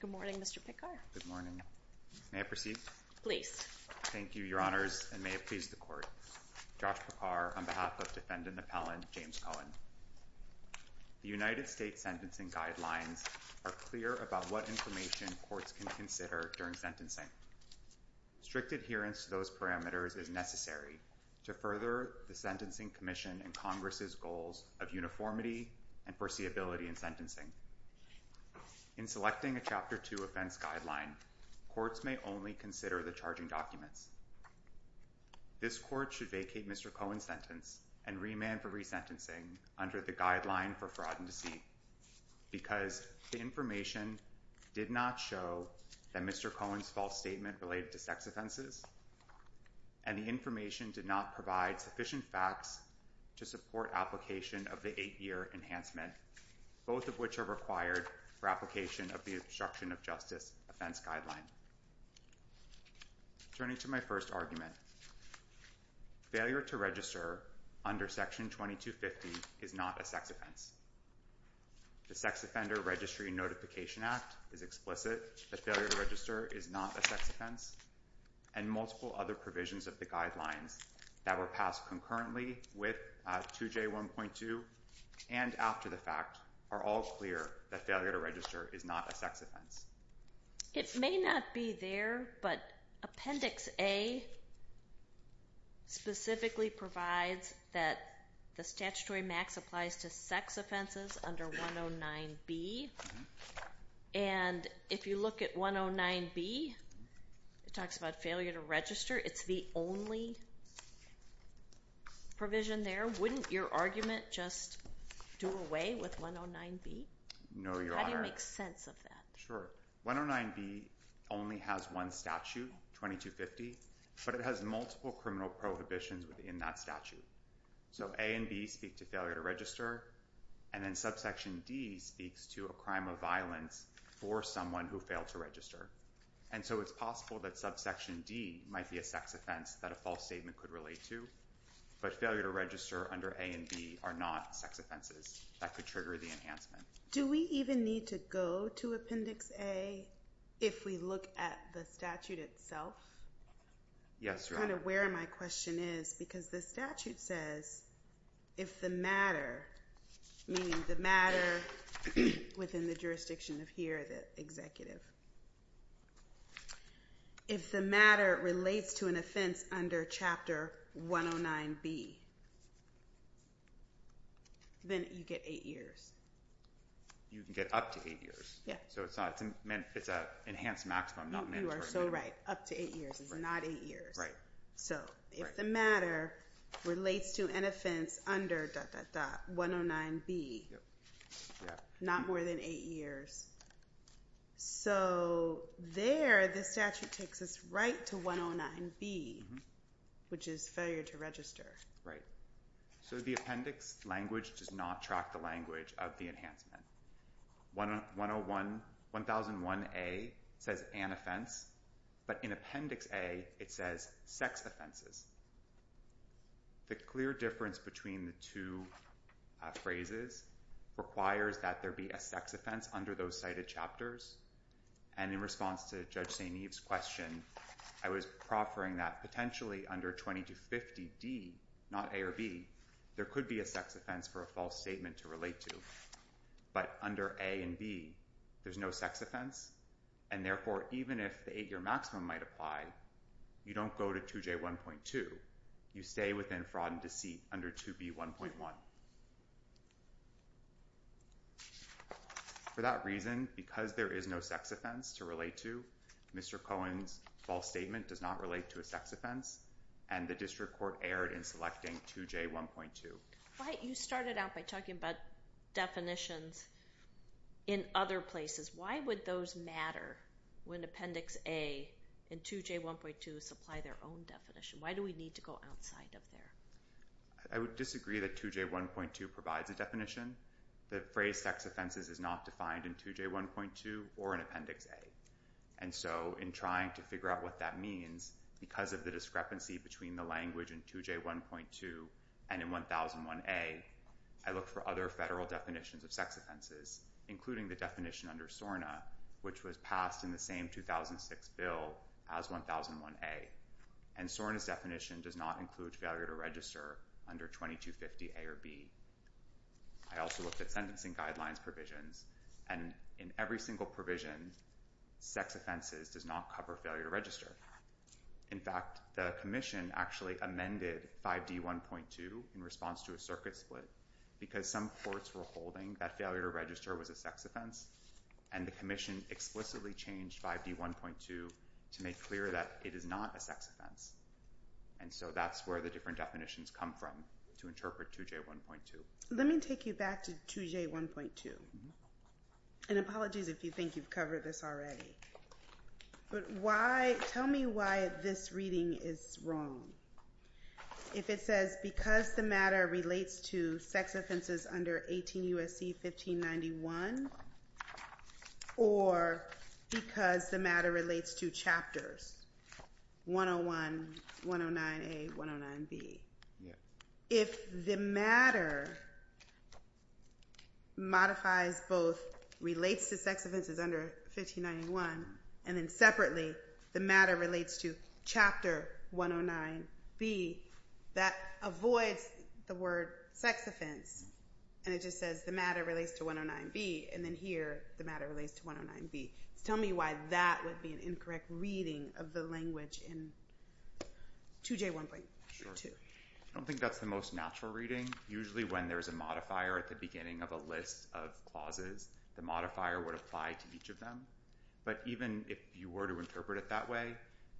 Good morning, Mr. Picard. Good morning. May I proceed? Please. Thank you, Your Honors, and may it please the Court. Josh Picard, on behalf of Defendant Appellant James Cohen. The United States Sentencing Guidelines are clear about what information courts can consider during sentencing. Strict adherence to those parameters is necessary to further the Sentencing Commission and Congress's goals of uniformity and foreseeability in sentencing. In selecting a Chapter 2 offense guideline, courts may only consider the charging documents. This Court should vacate Mr. Cohen's sentence and remand for resentencing under the Guideline for Fraud and Deceit because the information did not show that Mr. Cohen's false statement related to sex offenses, and the information did not provide sufficient facts to support application of the eight-year enhancement, both of which are required for application of the Obstruction of Justice Offense Guideline. Turning to my first argument, failure to register under Section 2250 is not a sex offense. The Sex Offender Registry Notification Act is explicit that failure to register is not a sex offense, and multiple other provisions of the Guidelines that were passed concurrently with 2J1.2 and after the fact are all clear that failure to register is not a sex offense. It may not be there, but Appendix A specifically provides that the statutory max applies to sex offenses under 109B, and if you look at 109B, it talks about failure to register. It's the only provision there. Wouldn't your argument just do away with 109B? No, Your Honor. How do you make sense of that? Sure. 109B only has one statute, 2250, but it has multiple criminal prohibitions within that So A and B speak to failure to register, and then Subsection D speaks to a crime of violence for someone who failed to register. And so it's possible that Subsection D might be a sex offense that a false statement could relate to, but failure to register under A and B are not sex offenses. That could trigger the enhancement. Do we even need to go to Appendix A if we look at the statute itself? Yes, Your Honor. That's kind of where my question is, because the statute says if the matter, meaning the matter within the jurisdiction of here, the executive, if the matter relates to an offense under Chapter 109B, then you get eight years. You can get up to eight years. Yeah. So it's an enhanced maximum, not mandatory minimum. You are so right. Up to eight years. It's not eight years. Right. So if the matter relates to an offense under dot, dot, dot, 109B, not more than eight years. So there, the statute takes us right to 109B, which is failure to register. Right. So the appendix language does not track the language of the enhancement. 1001A says an offense, but in Appendix A, it says sex offenses. The clear difference between the two phrases requires that there be a sex offense under those cited chapters. And in response to Judge St. Eve's question, I was proffering that potentially under 2250D, not A or B, there could be a sex offense for a false statement to relate to. But under A and B, there's no sex offense. And therefore, even if the eight-year maximum might apply, you don't go to 2J1.2. You stay within fraud and deceit under 2B1.1. For that reason, because there is no sex offense to relate to, Mr. Cohen's false statement does not relate to a sex offense. And the district court erred in selecting 2J1.2. Right. You started out by talking about definitions in other places. Why would those matter when Appendix A and 2J1.2 supply their own definition? Why do we need to go outside of there? I would disagree that 2J1.2 provides a definition. The phrase sex offenses is not defined in 2J1.2 or in Appendix A. And so, in trying to figure out what that means, because of the discrepancy between the language in 2J1.2 and in 1001A, I looked for other federal definitions of sex offenses, including the definition under SORNA, which was passed in the same 2006 bill as 1001A. And SORNA's definition does not include failure to register under 2250A or B. I also looked at sentencing guidelines provisions. And in every single provision, sex offenses does not cover failure to register. In fact, the commission actually amended 5D1.2 in response to a circuit split, because some courts were holding that failure to register was a sex offense. And the commission explicitly changed 5D1.2 to make clear that it is not a sex offense. And so, that's where the different definitions come from to interpret 2J1.2. Let me take you back to 2J1.2. And apologies if you think you've covered this already. But why, tell me why this reading is wrong. If it says, because the matter relates to sex offenses under 18 U.S.C. 1591, or because the matter relates to chapters 101, 109A, 109B. If the matter modifies both, relates to sex offenses under 1591, and then separately, the matter relates to chapter 109B, that avoids the word sex offense. And it just says the matter relates to 109B, and then here, the matter relates to 109B. Tell me why that would be an incorrect reading of the language in 2J1.2. I don't think that's the most natural reading. Usually, when there's a modifier at the beginning of a list of clauses, the modifier would apply to each of them. But even if you were to interpret it that way,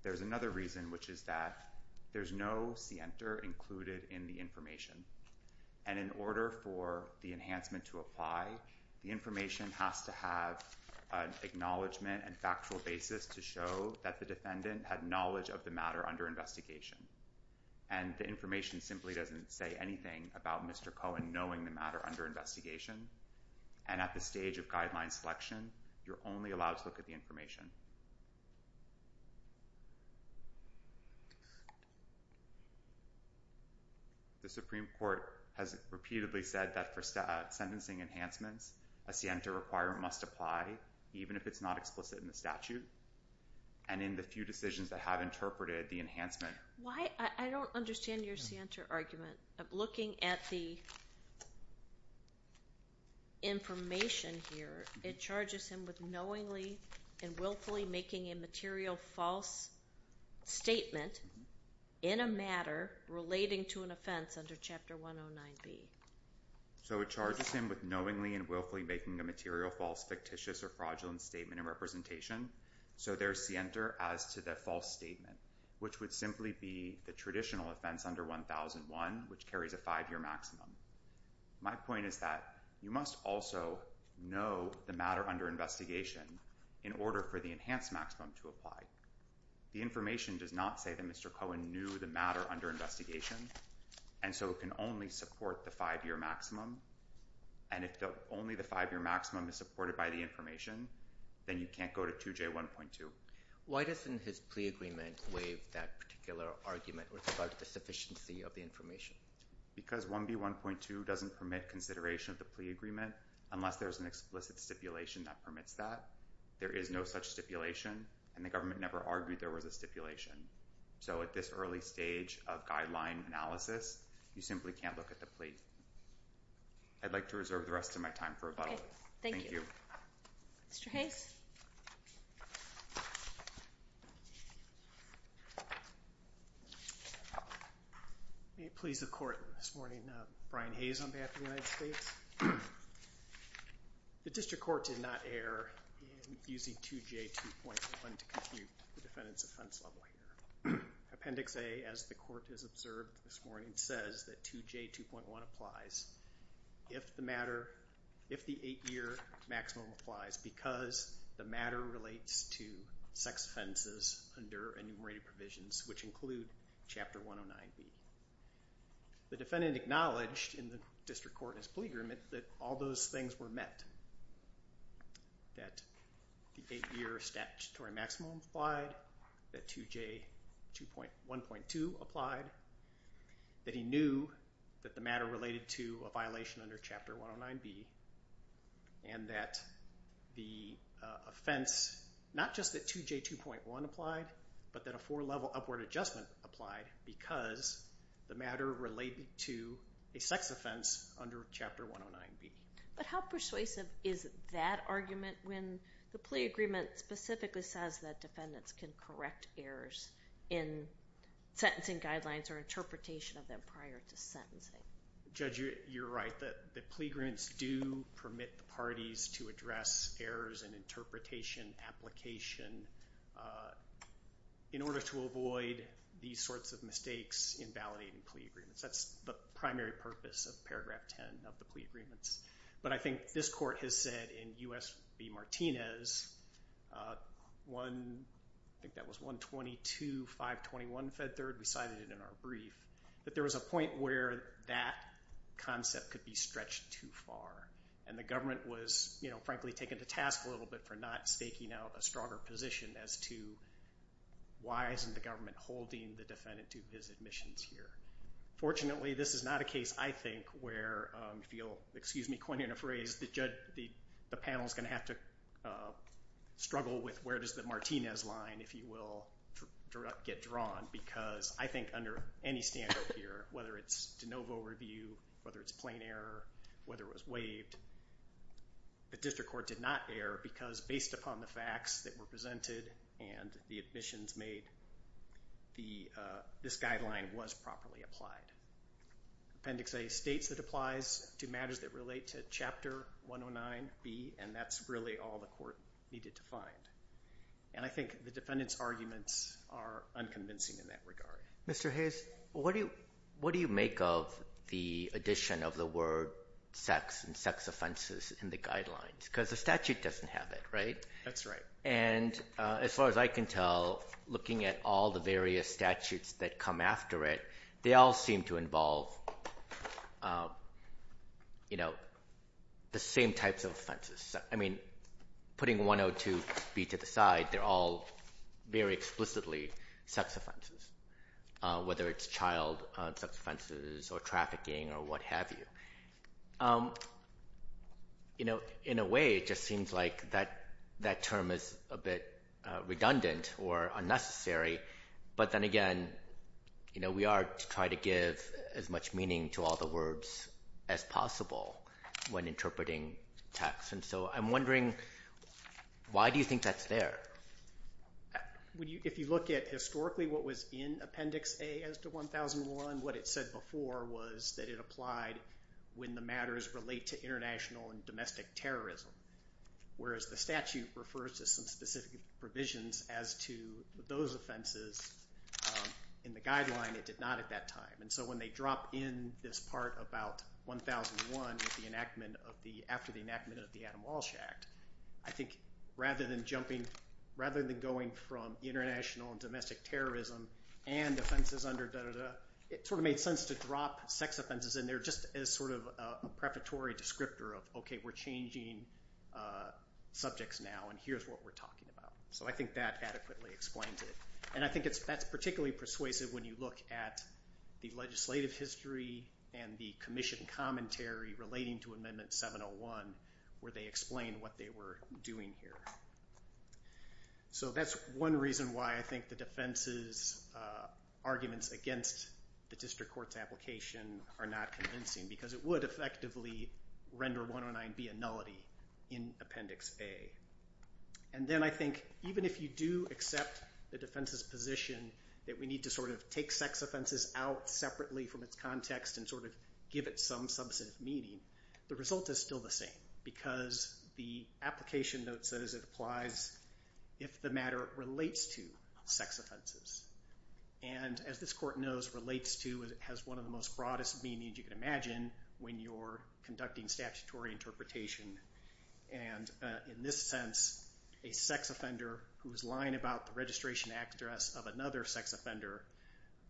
there's another reason, which is that there's no see enter included in the information. And in order for the enhancement to apply, the information has to have an acknowledgement and factual basis to show that the defendant had knowledge of the matter under investigation. And the information simply doesn't say anything about Mr. Cohen knowing the matter under investigation. And at the stage of guideline selection, you're only allowed to look at the information. The Supreme Court has repeatedly said that for sentencing enhancements, a see enter requirement must apply, even if it's not explicit in the statute, and in the few decisions that have interpreted the enhancement. Why? I don't understand your see enter argument. Looking at the information here, it charges him with knowingly and willfully making a material false statement in a matter relating to an offense under Chapter 109B. So it charges him with knowingly and willfully making a material false, fictitious, or fraudulent statement of representation. So there's see enter as to the false statement, which would simply be the traditional offense under 1001, which carries a five-year maximum. My point is that you must also know the matter under investigation in order for the enhanced maximum to apply. The information does not say that Mr. Cohen knew the matter under investigation, and so it can only support the five-year maximum. And if only the five-year maximum is supported by the information, then you can't go to 2J1.2. Why doesn't his plea agreement waive that particular argument where it's about the sufficiency of the information? Because 1B1.2 doesn't permit consideration of the plea agreement unless there's an explicit stipulation that permits that. There is no such stipulation, and the government never argued there was a stipulation. So at this early stage of guideline analysis, you simply can't look at the plea. I'd like to reserve the rest of my time for a vote. Thank you. Mr. Hayes? May it please the court. This morning, Brian Hayes on behalf of the United States. The district court did not err in using 2J2.1 to compute the defendant's offense level here. Appendix A, as the court has observed this morning, says that 2J2.1 applies if the eight-year maximum applies because the matter relates to sex offenses under enumerated provisions, which include Chapter 109B. The defendant acknowledged in the district court's plea agreement that all those things were met, that the eight-year statutory maximum applied, that 2J1.2 applied, that he knew that the matter related to a violation under Chapter 109B, and that the offense, not just that 2J2.1 applied, but that a four-level upward adjustment applied because the matter related to a sex offense under Chapter 109B. But how persuasive is that argument when the plea agreement specifically says that defendants can correct errors in sentencing guidelines or interpretation of them prior to sentencing? Judge, you're right, that the plea agreements do permit the parties to address errors in interpretation, application, in order to avoid these sorts of mistakes in validating plea agreements. That's the primary purpose of Paragraph 10 of the plea agreements. But I think this court has said in U.S. v. Martinez, I think that was 122.521 Fed Third, we cited it in our brief, that there was a point where that concept could be stretched too far. And the government was, frankly, taken to task a little bit for not staking out a stronger position as to why isn't the government holding the defendant to his admissions here. Fortunately, this is not a case, I think, where, if you'll excuse me, coin in a phrase, the panel's going to have to struggle with where does the Martinez line, if you will, get drawn, because I think under any standard here, whether it's de novo review, whether it's plain error, whether it was waived, the district court did not err, because based upon the facts that were presented and the admissions made, this guideline was properly applied. Appendix A states it applies to matters that relate to Chapter 109B, and that's really all the court needed to find. And I think the defendant's arguments are unconvincing in that regard. Mr. Hayes, what do you make of the addition of the word sex and sex offenses in the guidelines? Because the statute doesn't have it, right? That's right. And as far as I can tell, looking at all the various statutes that come after it, they all seem to involve the same types of offenses. I mean, putting 102B to the side, they're all very explicitly sex offenses, whether it's child sex offenses or trafficking or what have you. In a way, it just seems like that term is a bit redundant or unnecessary, but then again, we are to try to give as much meaning to all the words as possible when interpreting text. And so I'm wondering, why do you think that's there? If you look at historically what was in Appendix A as to 1001, what it said before was that it applied when the matters relate to international and domestic terrorism, whereas the statute refers to some specific provisions as to those offenses. In the guideline, it did not at that time. And so when they drop in this part about 1001 after the enactment of the Adam Walsh Act, I think rather than going from international and domestic terrorism and offenses under da-da-da, it sort of made sense to drop sex offenses in there just as sort of a preparatory descriptor of, okay, we're changing subjects now and here's what we're talking about. So I think that adequately explains it. And I think that's particularly persuasive when you look at the legislative history and the commission commentary relating to Amendment 701 where they explain what they were doing here. So that's one reason why I think the defense's arguments against the district court's application are not convincing because it would effectively render 109B a nullity in Appendix A. And then I think even if you do accept the defense's position that we need to sort of take sex offenses out separately from its context and sort of give it some substantive meaning, the result is still the same because the application note says it applies if the matter relates to sex offenses. And as this court knows, relates to has one of the most broadest meanings you can imagine when you're conducting statutory interpretation. And in this sense, a sex offender who's lying about the registration address of another sex offender,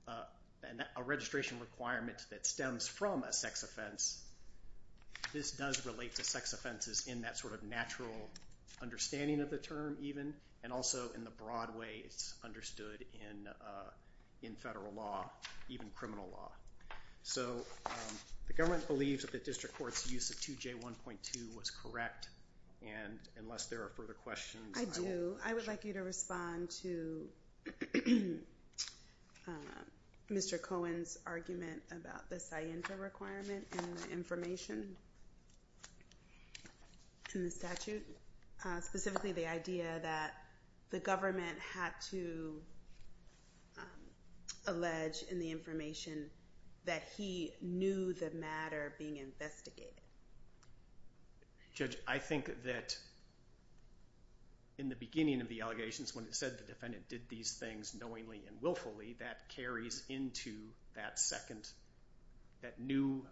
a registration requirement that stems from a sex offense, this does relate to sex offenses in that sort of natural understanding of the term even, and also in the broad way it's understood in federal law, even criminal law. So the government believes that the district court's use of 2J1.2 was correct. And unless there are further questions, I will... Mr. Cohen's argument about the scienta requirement and the information in the statute, specifically the idea that the government had to... allege in the information that he knew the matter being investigated. Judge, I think that in the beginning of the allegations, when it said the defendant did these things, knowingly and willfully, that carries into that second... that new,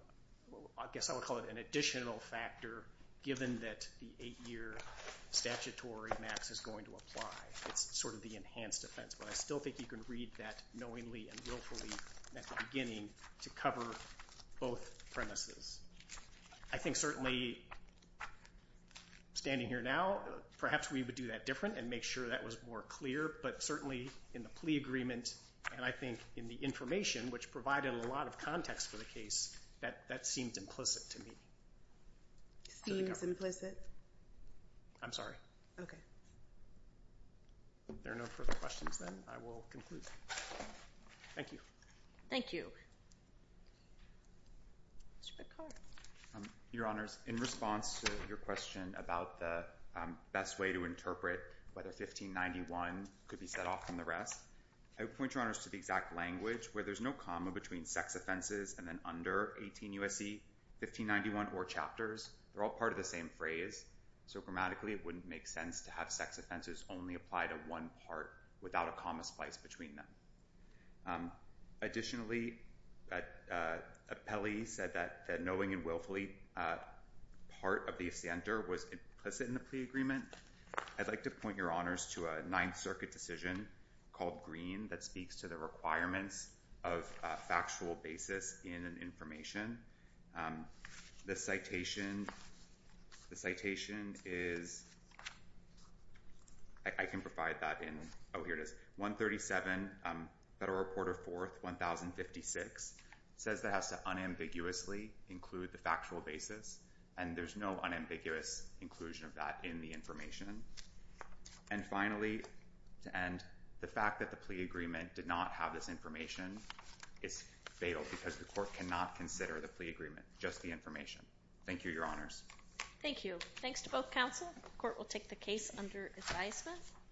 I guess I would call it an additional factor, given that the eight-year statutory max is going to apply. It's sort of the enhanced offense. But I still think you can read that knowingly and willfully at the beginning to cover both premises. I think certainly, standing here now, perhaps we would do that different and make sure that was more clear. But certainly in the plea agreement and I think in the information, which provided a lot of context for the case, that seemed implicit to me. Seems implicit? I'm sorry. Okay. If there are no further questions, then, I will conclude. Thank you. Thank you. Mr. Picard. Your Honors, in response to your question about the best way to interpret whether 1591 could be set off from the rest, I would point Your Honors to the exact language where there's no comma between sex offenses and then under 18 U.S.C., 1591 or chapters. They're all part of the same phrase. So grammatically, it wouldn't make sense to have sex offenses only apply to one part without a comma splice between them. Additionally, Pelley said that knowingly and willfully part of the offender was implicit in the plea agreement. I'd like to point Your Honors to a Ninth Circuit decision called Green that speaks to the requirements of a factual basis in an information. The citation is... I can provide that in... Oh, here it is. 137, Federal Report of 4th, 1056, says that has to unambiguously include the factual basis, and there's no unambiguous inclusion of that in the information. And finally, to end, the fact that the plea agreement did not have this information is fatal because the court cannot consider the plea agreement, just the information. Thank you, Your Honors. Thank you. Thanks to both counsel. The court will take the case under advisement.